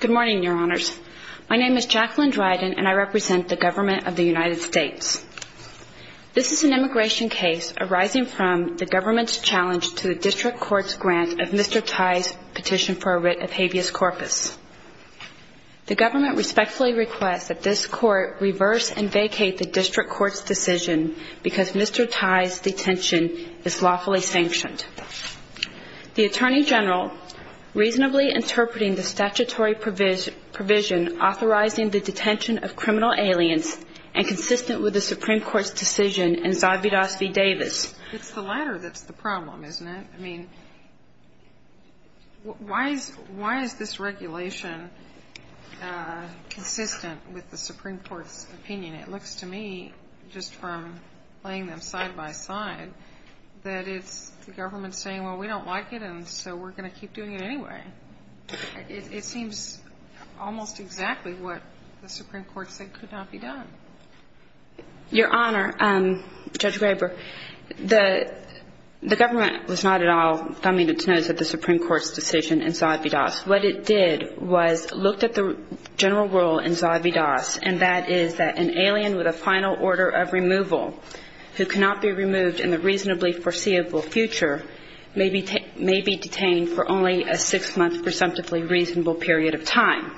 Good morning, Your Honors. My name is Jacqueline Dryden, and I represent the government of the United States. This is an immigration case arising from the government's challenge to the district court's grant of Mr. Tye's petition for a writ of habeas corpus. The government respectfully requests that this court reverse and vacate the district court's decision because Mr. Tye's detention is lawfully sanctioned. The Attorney General, reasonably interpreting the statutory provision authorizing the detention of criminal aliens, and consistent with the Supreme Court's decision in Zavidas v. Davis. It's the latter that's the problem, isn't it? I mean, why is this regulation consistent with the Supreme Court's opinion? It looks to me, just from playing them side by side, that it's the government saying, well, we don't like it, and so we're going to keep doing it anyway. It seems almost exactly what the Supreme Court said could not be done. Your Honor, Judge Graber, the government was not at all coming to terms with the Supreme Court's decision in Zavidas. What it did was look at the general rule in Zavidas, and that is that an alien with a final order of removal who cannot be removed in the reasonably foreseeable future may be detained for only a six-month presumptively reasonable period of time.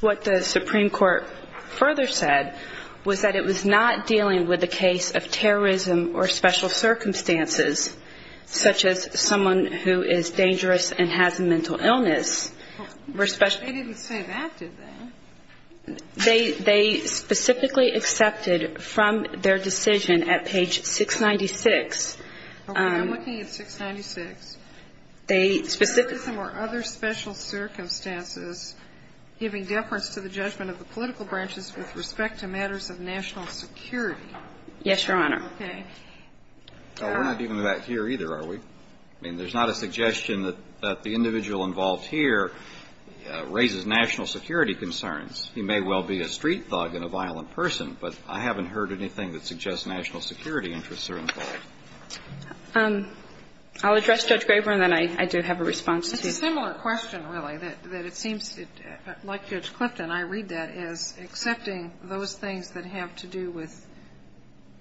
What the Supreme Court further said was that it was not dealing with the case of terrorism or special circumstances, such as someone who is dangerous and has a mental illness. They didn't say that, did they? They specifically accepted from their decision at page 696. Okay. I'm looking at 696. They specifically said that. Terrorism or other special circumstances giving deference to the judgment of the political Yes, Your Honor. Okay. We're not even back here, either, are we? I mean, there's not a suggestion that the individual involved here raises national security concerns. He may well be a street thug and a violent person, but I haven't heard anything that suggests national security interests are involved. I'll address Judge Graber, and then I do have a response to you. It's a similar question, really, that it seems, like Judge Clifton, I read that, is accepting those things that have to do with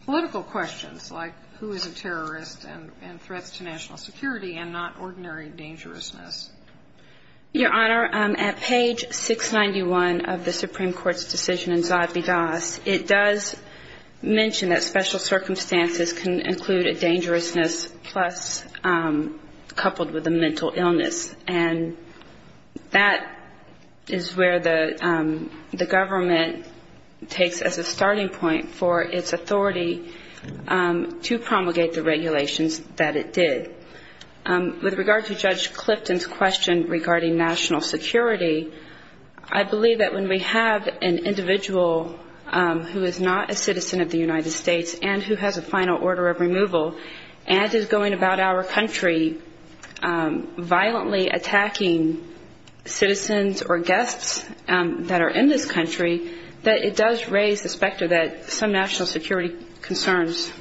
political questions, like who is a terrorist and threats to national security and not ordinary dangerousness. Your Honor, at page 691 of the Supreme Court's decision in Zodby-Dos, it does mention that special circumstances can include a dangerousness plus coupled with a mental illness, and that is where the government takes as a starting point for its authority to promulgate the regulations that it did. With regard to Judge Clifton's question regarding national security, I believe that when we have an individual who is not a citizen of the United States and who has a final order of removal and is going about our country violently attacking citizens or guests that are in this country, that it does raise the specter that some national security concerns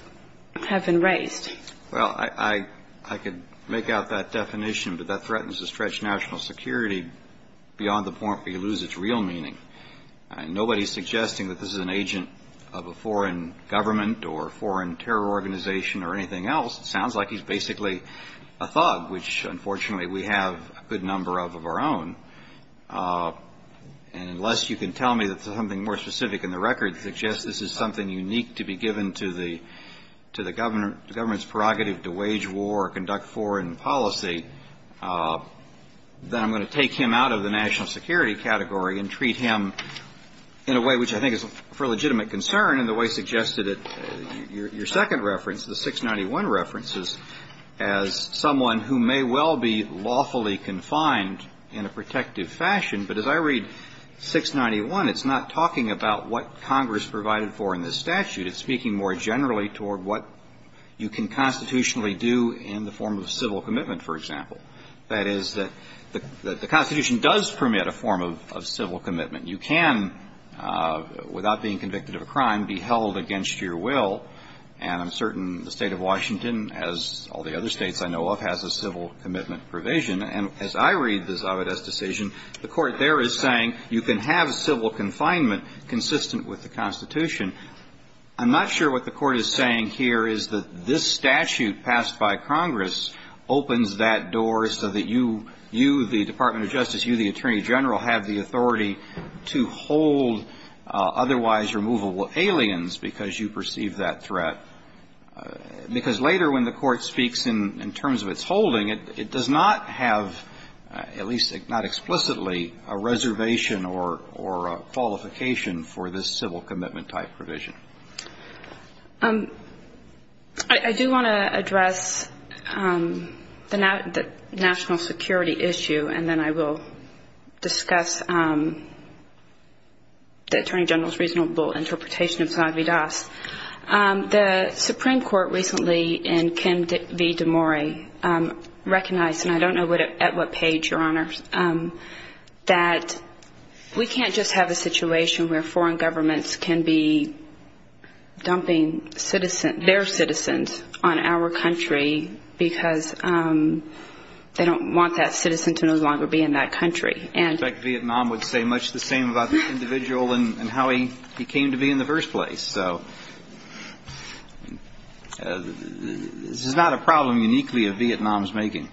have been raised. Well, I could make out that definition, but that threatens to stretch national security beyond the point where you lose its real meaning. And nobody is suggesting that this is an agent of a foreign government or a foreign terror organization or anything else. It sounds like he's basically a thug, which, unfortunately, we have a good number of of our own. And unless you can tell me that there's something more specific in the record that suggests this is something unique to be given to the government's prerogative to wage war or conduct foreign policy, then I'm going to take him out of the national security category and treat him in a way which I think is for legitimate concern in the way suggested at your second reference, the 691 references, as someone who may well be lawfully confined in a protective fashion. But as I read 691, it's not talking about what Congress provided for in this statute. It's speaking more generally toward what you can constitutionally do in the form of civil commitment, for example. That is, the Constitution does permit a form of civil commitment. You can, without being convicted of a crime, be held against your will. And I'm certain the State of Washington, as all the other states I know of, has a civil commitment provision. And as I read this Avedis decision, the Court there is saying you can have civil confinement consistent with the Constitution. I'm not sure what the Court is saying here is that this statute passed by Congress opens that door so that you, the Department of Justice, you, the Attorney General, have the authority to hold otherwise removable aliens because you perceive that threat. Because later when the Court speaks in terms of its holding, it does not have, at least not explicitly, a reservation or a qualification for this civil commitment type provision. I do want to address the national security issue, and then I will discuss the Attorney General's reasonable interpretation of this Avedis. The Supreme Court recently in Kim v. DeMori recognized, and I don't know at what page, Your Honors, that we can't just have a situation where foreign governments can be dumping their citizens on our country because they don't want that citizen to no longer be in that country. And I suspect Vietnam would say much the same about this individual and how he came to be in the first place. So this is not a problem uniquely of Vietnam's making.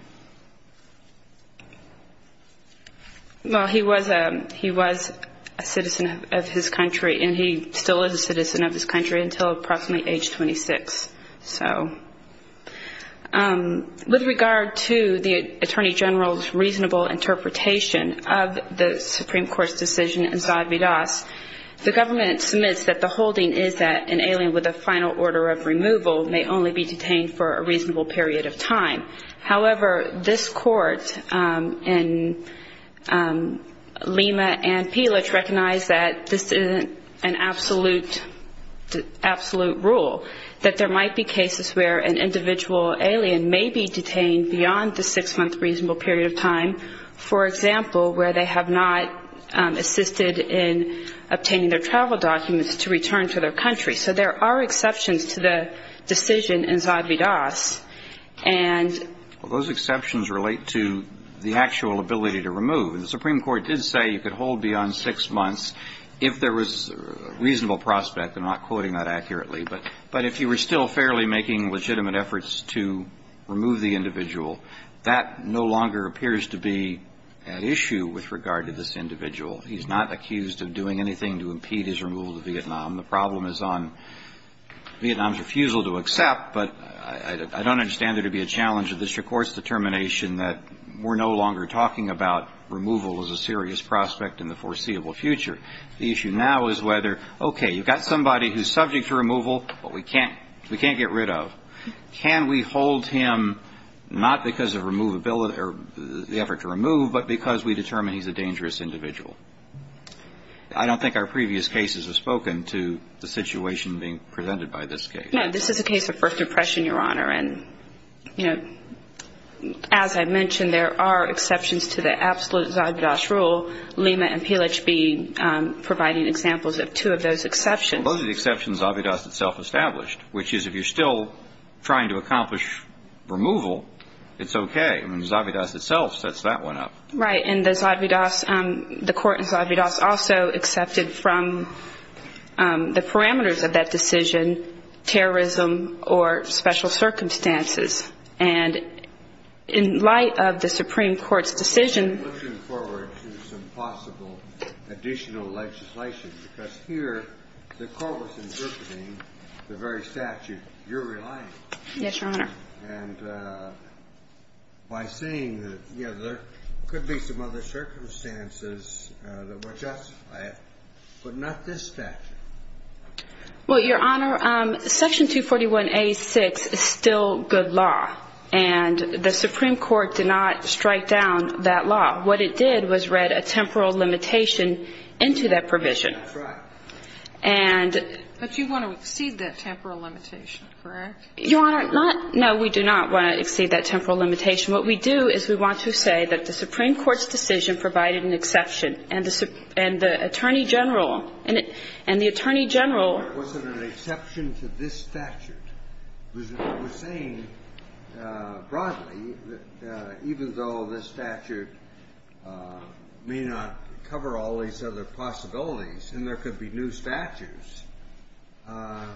Well, he was a citizen of his country, and he still is a citizen of his country until approximately age 26. So with regard to the Attorney General's reasonable interpretation of the Supreme Court's decision in Za Avedis, the government submits that the holding is that an alien with a final order of removal may only be detained for a reasonable period of time. However, this Court in Lima and Peelage recognized that this isn't an absolute rule, that there might be cases where an individual alien may be detained beyond the six-month reasonable period of time, for example, where they have not assisted in obtaining their travel documents to return to their country. So there are exceptions to the decision in Za Avedis. Well, those exceptions relate to the actual ability to remove. And the Supreme Court did say you could hold beyond six months if there was reasonable prospect. I'm not quoting that accurately. But if you were still fairly making legitimate efforts to remove the individual, that no longer appears to be an issue with regard to this individual. He's not accused of doing anything to impede his removal to Vietnam. The problem is on Vietnam's refusal to accept. But I don't understand there to be a challenge to this Court's determination that we're no longer talking about removal as a serious prospect in the foreseeable future. The issue now is whether, okay, you've got somebody who's subject to removal, but we can't get rid of. Can we hold him not because of the effort to remove, but because we determine he's a dangerous individual? I don't think our previous cases have spoken to the situation being presented by this case. No, this is a case of first impression, Your Honor. And, you know, as I mentioned, there are exceptions to the absolute Za Avedis rule. Lima and Pilich be providing examples of two of those exceptions. Those are the exceptions Za Avedis itself established, which is if you're still trying to accomplish removal, it's okay. I mean, Za Avedis itself sets that one up. Right. And the court in Za Avedis also accepted from the parameters of that decision terrorism or special circumstances. And in light of the Supreme Court's decision. I'm looking forward to some possible additional legislation, because here the court was interpreting the very statute you're relying on. Yes, Your Honor. And by saying that, you know, there could be some other circumstances that would justify it, but not this statute. Well, Your Honor, Section 241A6 is still good law. And the Supreme Court did not strike down that law. What it did was read a temporal limitation into that provision. That's right. But you want to exceed that temporal limitation, correct? Your Honor, not no, we do not want to exceed that temporal limitation. What we do is we want to say that the Supreme Court's decision provided an exception. And the Attorney General, and the Attorney General. It wasn't an exception to this statute. It was saying broadly that even though this statute may not cover all these other possibilities, and there could be new statutes. As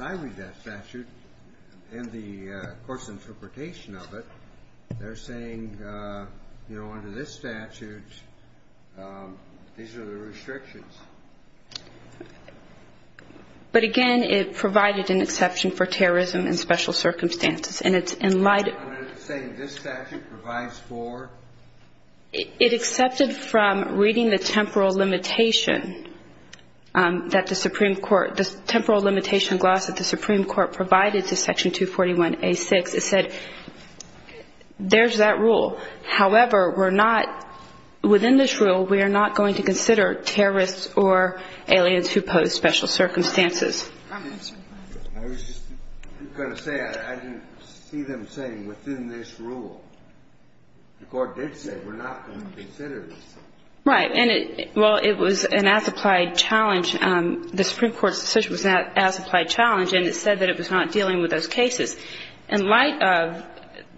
I read that statute, and the court's interpretation of it, they're saying, you know, under this statute, these are the restrictions. But again, it provided an exception for terrorism and special circumstances. And it's in light of. Your Honor, it's saying this statute provides for. It accepted from reading the temporal limitation that the Supreme Court, the temporal limitation gloss that the Supreme Court provided to Section 241A6. It said, there's that rule. However, we're not, within this rule, we are not going to consider terrorists or aliens who pose special circumstances. I was just going to say, I didn't see them saying, within this rule. The court did say, we're not going to consider this. Right. And it, well, it was an as-applied challenge. The Supreme Court's decision was an as-applied challenge, and it said that it was not dealing with those cases. In light of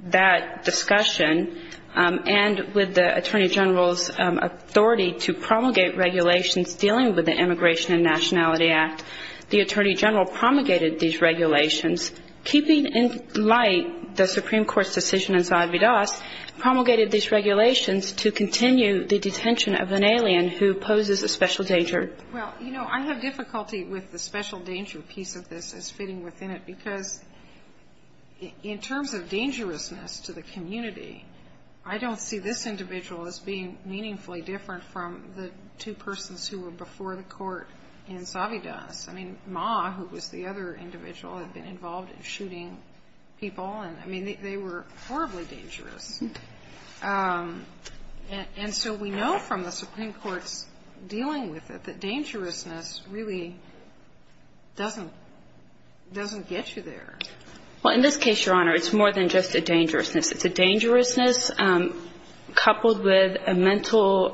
that discussion, and with the Attorney General's authority to promulgate regulations dealing with the Immigration and Nationality Act, the Attorney General promulgated these regulations, keeping in light the Supreme Court's decision in Zavidas, promulgated these regulations to continue the detention of an alien who poses a special danger. Well, you know, I have difficulty with the special danger piece of this as fitting within it, because in terms of dangerousness to the community, I don't see this individual as being meaningfully different from the two persons who were before the court in Zavidas. I mean, Ma, who was the other individual, had been involved in shooting people, and, I mean, they were horribly dangerous. And so we know from the Supreme Court's dealing with it that dangerousness really doesn't get you there. Well, in this case, Your Honor, it's more than just a dangerousness. It's a dangerousness coupled with a mental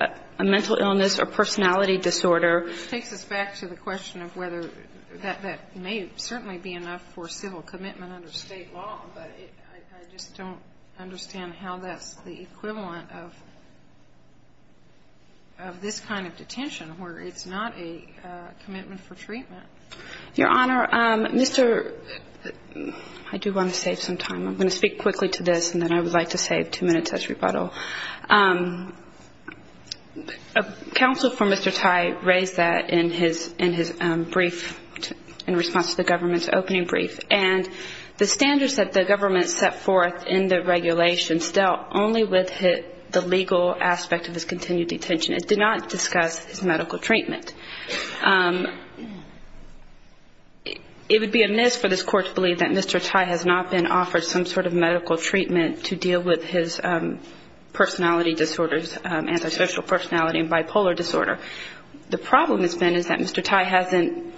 illness or personality disorder. It takes us back to the question of whether that may certainly be enough for civil commitment under State law. But I just don't understand how that's the equivalent of this kind of detention, where it's not a commitment for treatment. Your Honor, Mr. ---- I do want to save some time. I'm going to speak quickly to this, and then I would like to save two minutes as rebuttal. Counsel for Mr. Tai raised that in his brief in response to the government's opening brief. And the standards that the government set forth in the regulations dealt only with the legal aspect of his continued detention. It did not discuss his medical treatment. It would be amiss for this Court to believe that Mr. Tai has not been offered some sort of medical treatment to deal with his personality disorders, antisocial personality and bipolar disorder. The problem has been is that Mr. Tai hasn't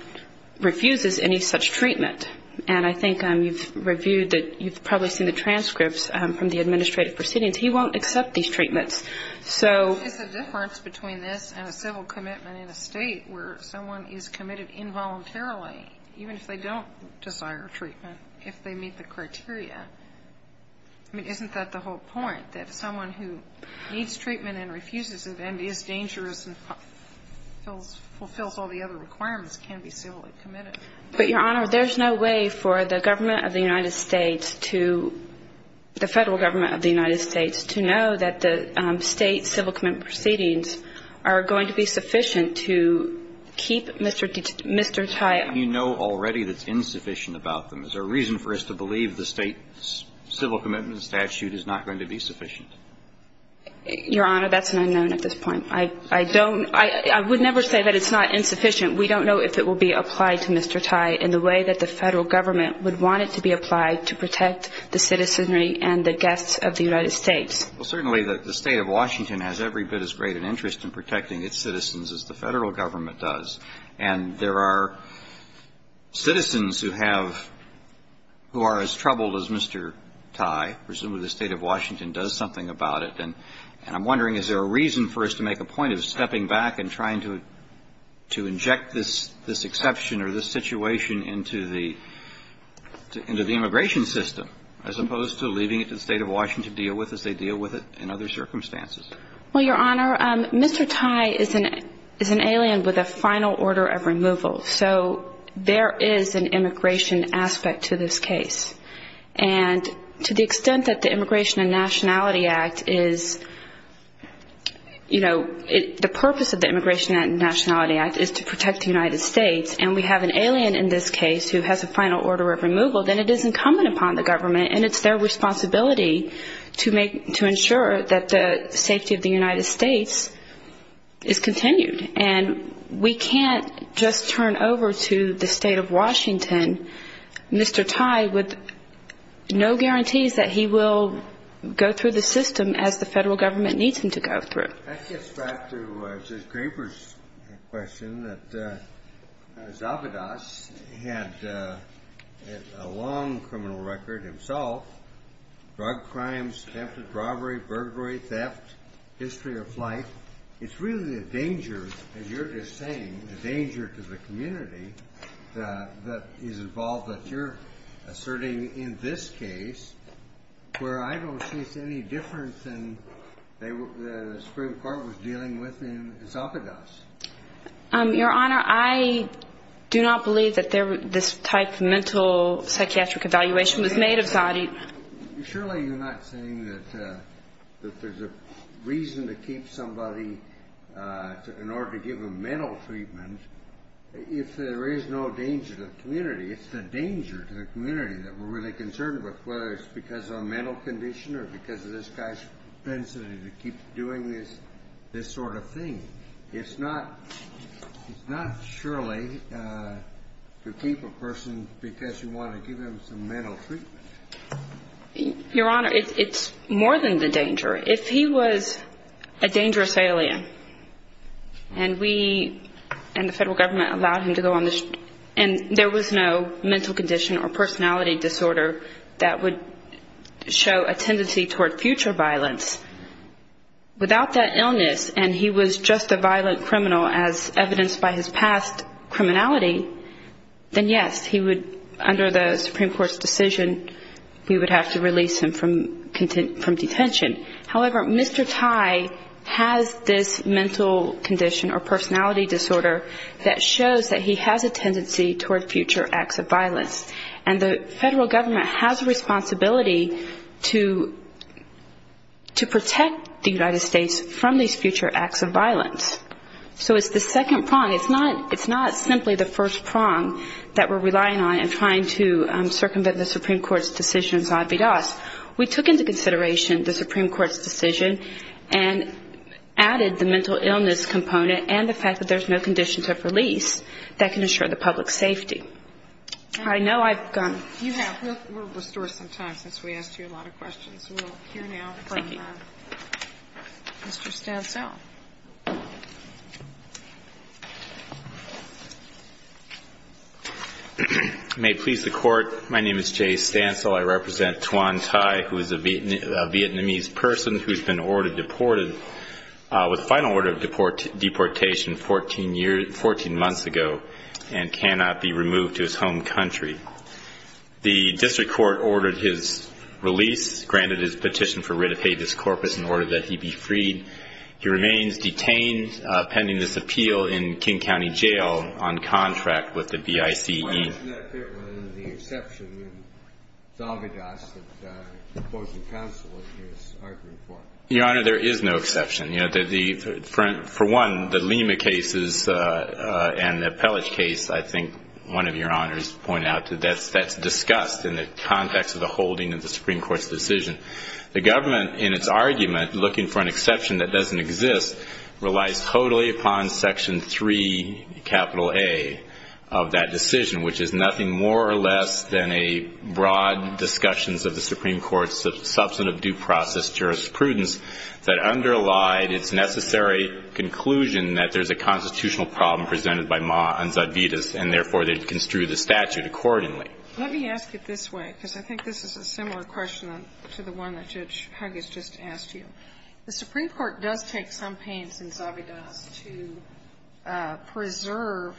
refused any such treatment. And I think you've reviewed that. You've probably seen the transcripts from the administrative proceedings. He won't accept these treatments. So ---- It's a difference between this and a civil commitment in a State where someone is committed involuntarily, even if they don't desire treatment, if they meet the criteria. I mean, isn't that the whole point, that someone who needs treatment and refuses it and is dangerous and fulfills all the other requirements can be civilly committed? But, Your Honor, there's no way for the government of the United States to ---- state civil commitment proceedings are going to be sufficient to keep Mr. Tai ---- You know already that it's insufficient about them. Is there a reason for us to believe the state civil commitment statute is not going to be sufficient? Your Honor, that's an unknown at this point. I don't ---- I would never say that it's not insufficient. We don't know if it will be applied to Mr. Tai in the way that the Federal Government would want it to be applied to protect the citizenry and the guests of the United States. Well, certainly the State of Washington has every bit as great an interest in protecting its citizens as the Federal Government does. And there are citizens who have ---- who are as troubled as Mr. Tai. Presumably the State of Washington does something about it. And I'm wondering, is there a reason for us to make a point of stepping back and trying to inject this exception or this situation into the immigration system, as opposed to leaving it to the State of Washington to deal with as they deal with it in other circumstances? Well, Your Honor, Mr. Tai is an alien with a final order of removal. So there is an immigration aspect to this case. And to the extent that the Immigration and Nationality Act is, you know, the purpose of the Immigration and Nationality Act is to protect the United States, and we have an alien in this case who has a final order of removal, then it is incumbent upon the government, and it's their responsibility to make ---- to ensure that the safety of the United States is continued. And we can't just turn over to the State of Washington Mr. Tai with no guarantees that he will go through the system as the Federal Government needs him to go through. Your Honor, that gets back to Judge Graber's question that Zavadas had a long criminal record himself, drug crimes, attempted robbery, burglary, theft, history of life. It's really a danger, as you're just saying, a danger to the community that is involved that you're asserting in this case where I don't see any difference than the Supreme Court was dealing with in Zavadas. Your Honor, I do not believe that this type of mental psychiatric evaluation was made of Zavadas. Surely you're not saying that there's a reason to keep somebody in order to give them mental treatment if there is no danger to the community. It's the danger to the community that we're really concerned with, whether it's because of a mental condition or because of this guy's tenacity to keep doing this sort of thing. It's not surely to keep a person because you want to give him some mental treatment. Your Honor, if he was a dangerous alien and we and the federal government allowed him to go on the street and there was no mental condition or personality disorder that would show a tendency toward future violence, without that illness and he was just a violent criminal as evidenced by his past criminality, then yes, he would, under the Supreme Court's decision, we would have to release him from detention. However, Mr. Tai has this mental condition or personality disorder that shows that he has a tendency toward future acts of violence. And the federal government has a responsibility to protect the United States from these future acts of violence. So it's the second prong, it's not simply the first prong that we're relying on in trying to circumvent the Supreme Court's decision, we took into consideration the Supreme Court's decision and added the mental illness component and the fact that there's no conditions of release that can assure the public's safety. I know I've gone. We'll restore some time since we asked you a lot of questions. We'll hear now from Mr. Stansell. May it please the Court, my name is Jay Stansell. I represent Thuan Tai, who is a Vietnamese person who's been ordered deported with final order of deportation 14 months ago and cannot be removed to his home country. The district court ordered his release, granted his petition for writ of habeas corpus in order that he be freed. He remains detained pending this appeal in King County Jail on contract with the BICE. Why doesn't that fit with the exception in Zalvydas that the opposing counsel is arguing for? Your Honor, there is no exception. For one, the Lima cases and the Appellate case, I think one of your honors pointed out, that's discussed in the context of the holding of the Supreme Court's decision. The government, in its argument, looking for an exception that doesn't exist, relies totally upon Section 3, capital A, of that decision, which is nothing more or less than a broad discussions of the Supreme Court's substantive due process jurisprudence that underlied its necessary conclusion that there's a constitutional problem presented by Ma on Zalvydas, and therefore they'd construe the statute accordingly. Let me ask it this way, because I think this is a similar question to the one that Judge Huggis just asked you. The Supreme Court does take some pains in Zalvydas to preserve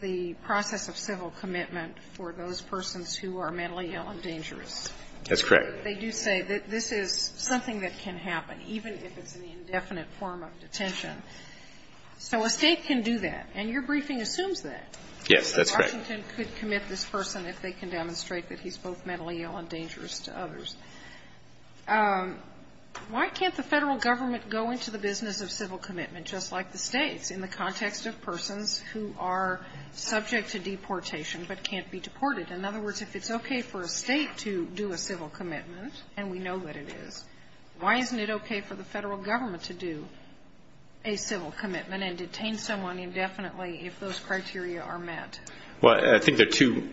the process of civil commitment for those persons who are mentally ill and dangerous. That's correct. They do say that this is something that can happen, even if it's an indefinite form of detention. So a State can do that, and your briefing assumes that. Yes, that's correct. And Washington could commit this person if they can demonstrate that he's both mentally ill and dangerous to others. Why can't the Federal Government go into the business of civil commitment, just like the States, in the context of persons who are subject to deportation but can't be deported? In other words, if it's okay for a State to do a civil commitment, and we know that it is, why isn't it okay for the Federal Government to do a civil commitment and detain someone indefinitely if those criteria are met? Well, I think there are two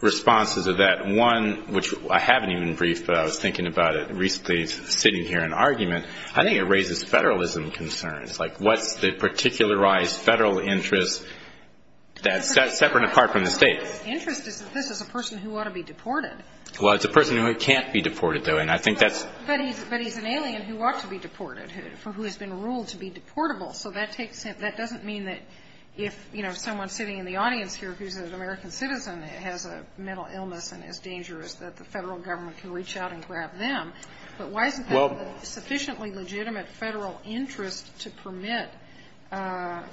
responses to that. One, which I haven't even briefed, but I was thinking about it recently sitting here in argument, I think it raises Federalism concerns. Like, what's the particularized Federal interest that's separate and apart from the State? The interest is that this is a person who ought to be deported. Well, it's a person who can't be deported, though, and I think that's... But he's an alien who ought to be deported, who has been ruled to be deportable. So that doesn't mean that if, you know, someone sitting in the audience here who's an American citizen has a mental illness and is dangerous that the Federal Government can reach out and grab them. But why isn't there sufficiently legitimate Federal interest to permit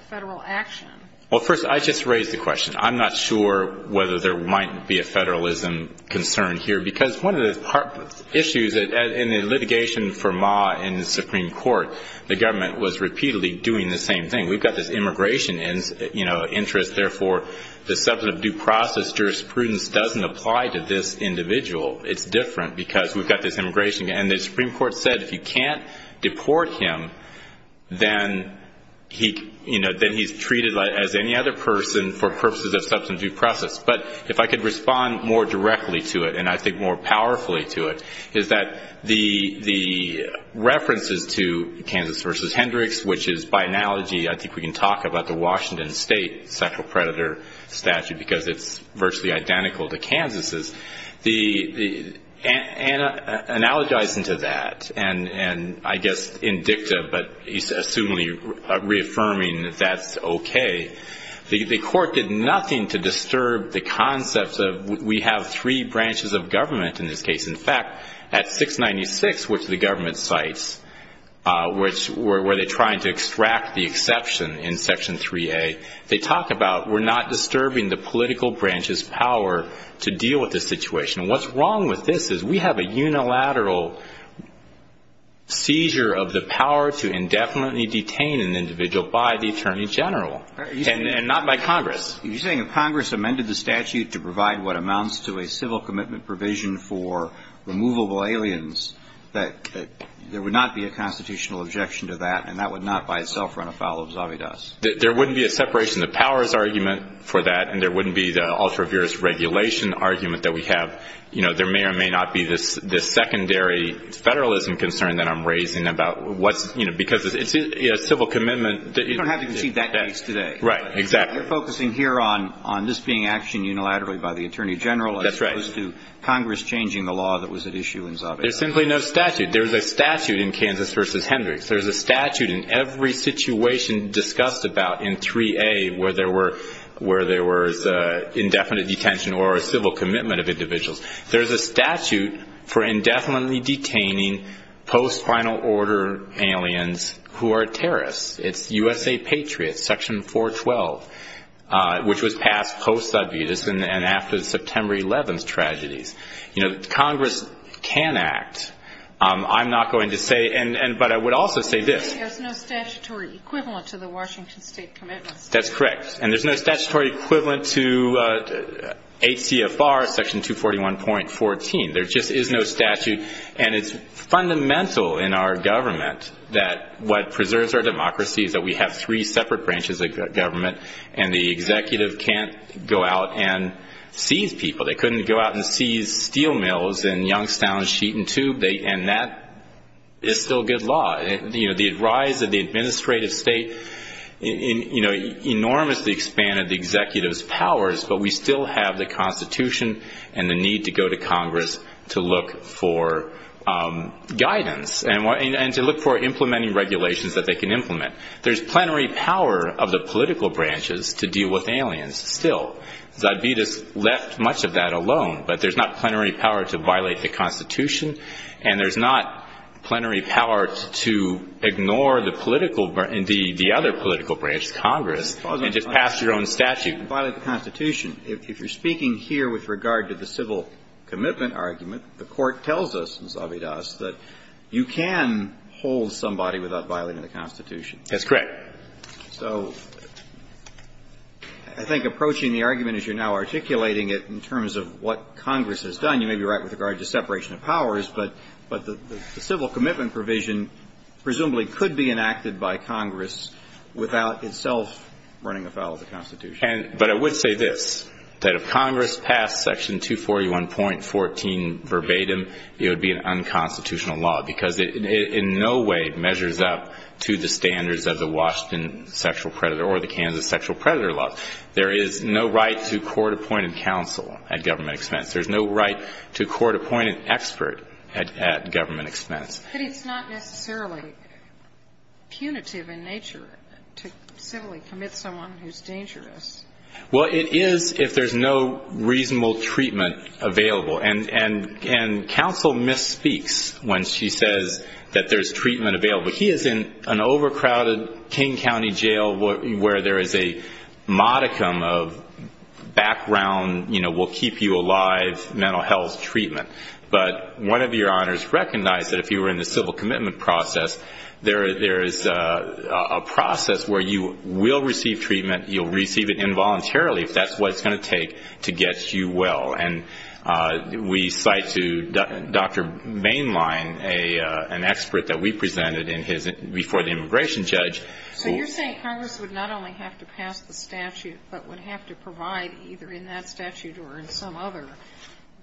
Federal action? Well, first, I just raised the question. I'm not sure whether there might be a Federalism concern here because one of the issues in the litigation for Ma in the Supreme Court, the government was repeatedly doing the same thing. We've got this immigration interest. Therefore, the substance of due process jurisprudence doesn't apply to this individual. It's different because we've got this immigration. And the Supreme Court said if you can't deport him, then he's treated as any other person for purposes of substance of due process. But if I could respond more directly to it, and I think more powerfully to it, is that the references to Kansas v. Hendricks, which is, by analogy, I think we can talk about the Washington State sexual predator statute because it's virtually identical to Kansas'. Analogizing to that, and I guess in dicta, but assumingly reaffirming that that's okay, the court did nothing to disturb the concepts of we have three branches of government in this case. In fact, at 696, which the government cites, where they're trying to extract the exception in Section 3A, they talk about we're not disturbing the political branch's power to deal with the situation. What's wrong with this is we have a unilateral seizure of the power to indefinitely detain an individual by the Attorney General and not by Congress. You're saying if Congress amended the statute to provide what amounts to a civil commitment provision for removable aliens, that there would not be a constitutional objection to that, and that would not by itself run afoul of Zavitas? There wouldn't be a separation of powers argument for that, and there wouldn't be the ultra-virus regulation argument that we have. There may or may not be this secondary federalism concern that I'm raising about what's – You don't have to concede that case today. Right, exactly. You're focusing here on this being actioned unilaterally by the Attorney General as opposed to Congress changing the law that was at issue in Zavitas. There's simply no statute. There's a statute in Kansas v. Hendricks. There's a statute in every situation discussed about in 3A where there was indefinite detention or a civil commitment of individuals. There's a statute for indefinitely detaining post-final order aliens who are terrorists. It's USA Patriots, Section 412, which was passed post-Zavitas and after the September 11th tragedies. Congress can act. I'm not going to say – but I would also say this. There's no statutory equivalent to the Washington State commitments. That's correct. And there's no statutory equivalent to ACFR, Section 241.14. There just is no statute. And it's fundamental in our government that what preserves our democracy is that we have three separate branches of government and the executive can't go out and seize people. They couldn't go out and seize steel mills in Youngstown, Sheet and Tube, and that is still good law. The rise of the administrative state enormously expanded the executive's powers, but we still have the Constitution and the need to go to Congress to look for guidance and to look for implementing regulations that they can implement. There's plenary power of the political branches to deal with aliens still. Zavitas left much of that alone, but there's not plenary power to violate the Constitution and there's not plenary power to ignore the political – the other political branch, Congress, and just pass your own statute. If you're speaking here with regard to the civil commitment argument, the Court tells us in Zavitas that you can hold somebody without violating the Constitution. That's correct. So I think approaching the argument as you're now articulating it in terms of what Congress has done, you may be right with regard to separation of powers, but the civil commitment provision presumably could be enacted by Congress without itself running afoul of the Constitution. But I would say this, that if Congress passed Section 241.14 verbatim, it would be an unconstitutional law because it in no way measures up to the standards of the Washington sexual predator or the Kansas sexual predator law. There is no right to court-appointed counsel at government expense. There's no right to court-appointed expert at government expense. But it's not necessarily punitive in nature to civilly commit someone who's dangerous. Well, it is if there's no reasonable treatment available. And counsel misspeaks when she says that there's treatment available. He is in an overcrowded King County jail where there is a modicum of background, you know, we'll keep you alive, mental health, treatment. But one of your honors recognized that if you were in the civil commitment process, there is a process where you will receive treatment, you'll receive it involuntarily, if that's what it's going to take to get you well. And we cite to Dr. Mainline an expert that we presented before the immigration judge. So you're saying Congress would not only have to pass the statute, but would have to provide either in that statute or in some other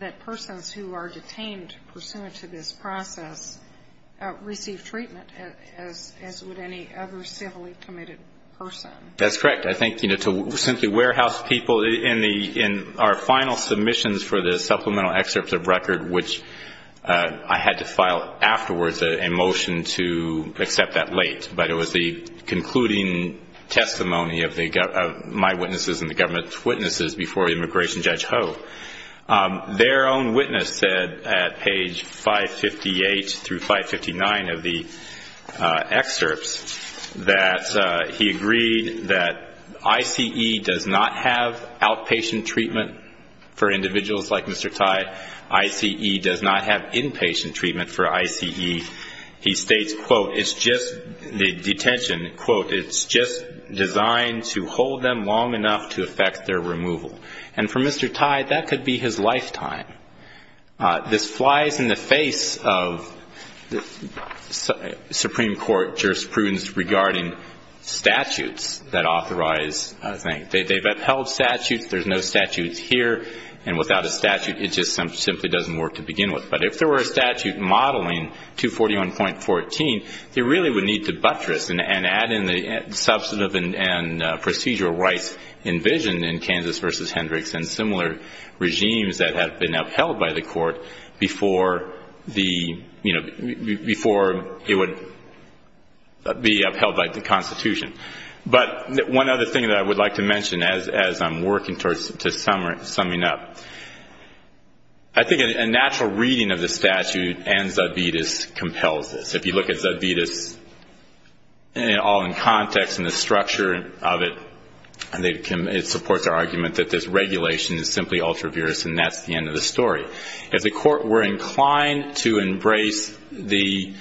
that persons who are detained pursuant to this process receive treatment as would any other civilly committed person? That's correct. I think, you know, to simply warehouse people, in our final submissions for the supplemental excerpts of record, which I had to file afterwards a motion to accept that late, but it was the concluding testimony of my witnesses and the government's witnesses before immigration judge Ho. Their own witness said at page 558 through 559 of the excerpts that he agreed that I.C.E. does not have outpatient treatment for individuals like Mr. Tye. I.C.E. does not have inpatient treatment for I.C.E. He states, quote, it's just the detention, quote, it's just designed to hold them long enough to affect their removal. And for Mr. Tye, that could be his lifetime. This flies in the face of Supreme Court jurisprudence regarding statutes that authorize, I think. They've upheld statutes. There's no statutes here. And without a statute, it just simply doesn't work to begin with. But if there were a statute modeling 241.14, they really would need to buttress and add in the substantive and procedural rights envisioned in Kansas v. Hendricks and similar regimes that have been upheld by the court before it would be upheld by the Constitution. But one other thing that I would like to mention as I'm working towards summing up, I think a natural reading of the statute and Zudvitas compels this. If you look at Zudvitas all in context and the structure of it, it supports our argument that this regulation is simply ultra-virus, and that's the end of the story. If the court were inclined to embrace the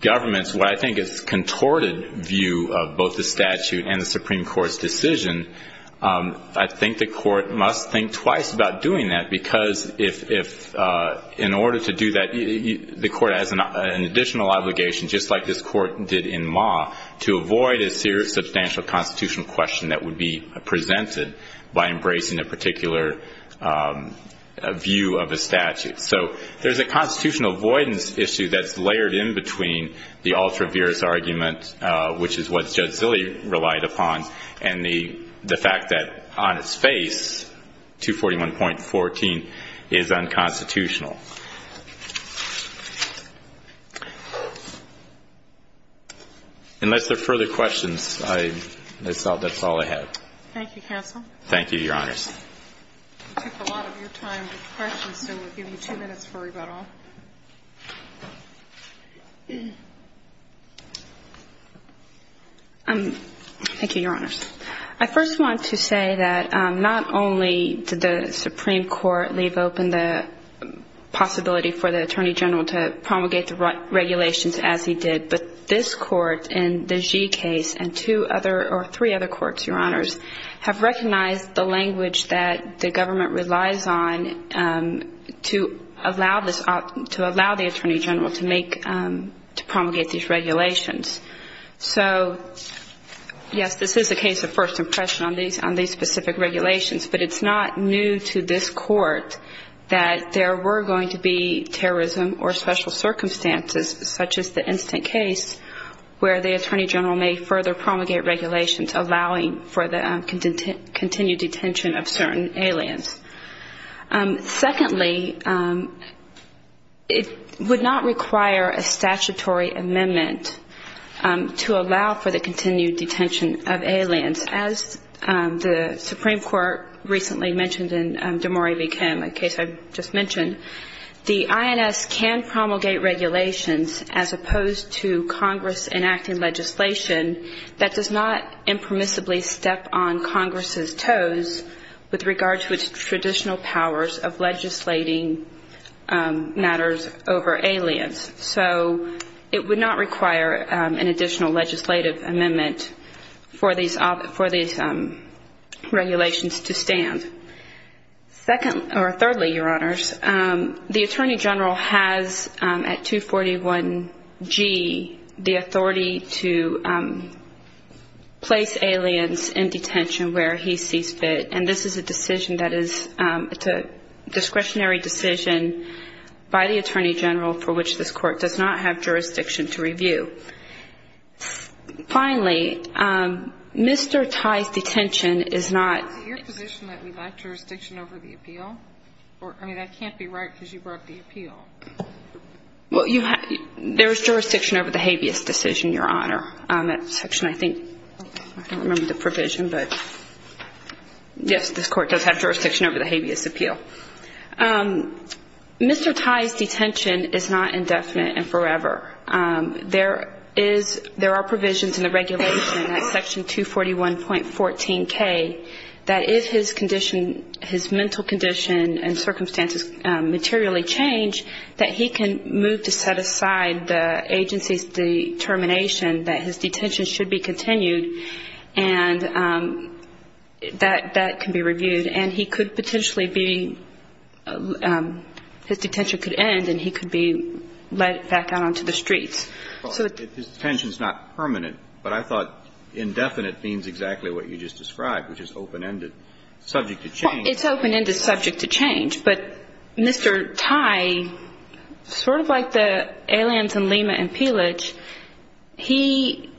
government's, what I think is contorted view of both the statute and the Supreme Court's decision, I think the court must think twice about doing that because if in order to do that, the court has an additional obligation, just like this court did in Ma, to avoid a serious substantial constitutional question that would be presented by embracing a particular view of a statute. So there's a constitutional avoidance issue that's layered in between the ultra-virus argument, which is what Judge Zille relied upon, and the fact that on its face 241.14 is unconstitutional. Unless there are further questions, I thought that's all I had. Thank you, counsel. Thank you, Your Honors. We took a lot of your time with questions, so we'll give you two minutes for rebuttal. Thank you, Your Honors. I first want to say that not only did the Supreme Court leave open the possibility for the Attorney General to promulgate the regulations as he did, but this court in the Gee case and two other or three other courts, Your Honors, have recognized the language that the government relies on to allow the Attorney General to promulgate these regulations. So, yes, this is a case of first impression on these specific regulations, but it's not new to this court that there were going to be terrorism or special circumstances, such as the instant case, where the Attorney General may further promulgate regulations allowing for the continued detention of certain aliens. Secondly, it would not require a statutory amendment to allow for the continued detention of aliens. As the Supreme Court recently mentioned in Demore v. Kim, a case I just mentioned, the INS can promulgate regulations as opposed to Congress enacting legislation that does not impermissibly step on Congress's toes with regard to its traditional powers of legislating matters over aliens. So it would not require an additional legislative amendment for these regulations to stand. Thirdly, Your Honors, the Attorney General has at 241G the authority to place aliens in detention where he sees fit, and this is a decision that is a discretionary decision by the Attorney General for which this court does not have jurisdiction to review. Finally, Mr. Tai's detention is not ---- Is it your position that we lack jurisdiction over the appeal? I mean, that can't be right because you brought the appeal. Well, there is jurisdiction over the habeas decision, Your Honor. I don't remember the provision, but yes, this court does have jurisdiction over the habeas appeal. Mr. Tai's detention is not indefinite and forever. There are provisions in the regulation at Section 241.14K that if his condition, his mental condition and circumstances materially change, that he can move to set aside the agency's determination that his detention should be continued and that that can be reviewed, and he could potentially be ---- his detention could end and he could be let back out onto the streets. Well, his detention is not permanent, but I thought indefinite means exactly what you just described, which is open-ended, subject to change. But Mr. Tai, sort of like the aliens in Lima and Peelage, he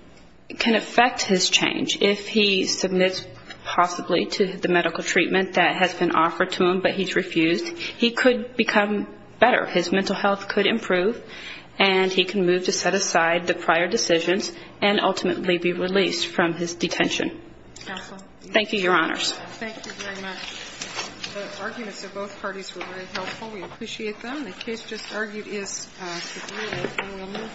can affect his change. If he submits possibly to the medical treatment that has been offered to him but he's refused, he could become better. His mental health could improve and he can move to set aside the prior decisions and ultimately be released from his detention. Counsel? Thank you, Your Honors. Thank you very much. The arguments of both parties were very helpful. We appreciate them. The case just argued is agreed.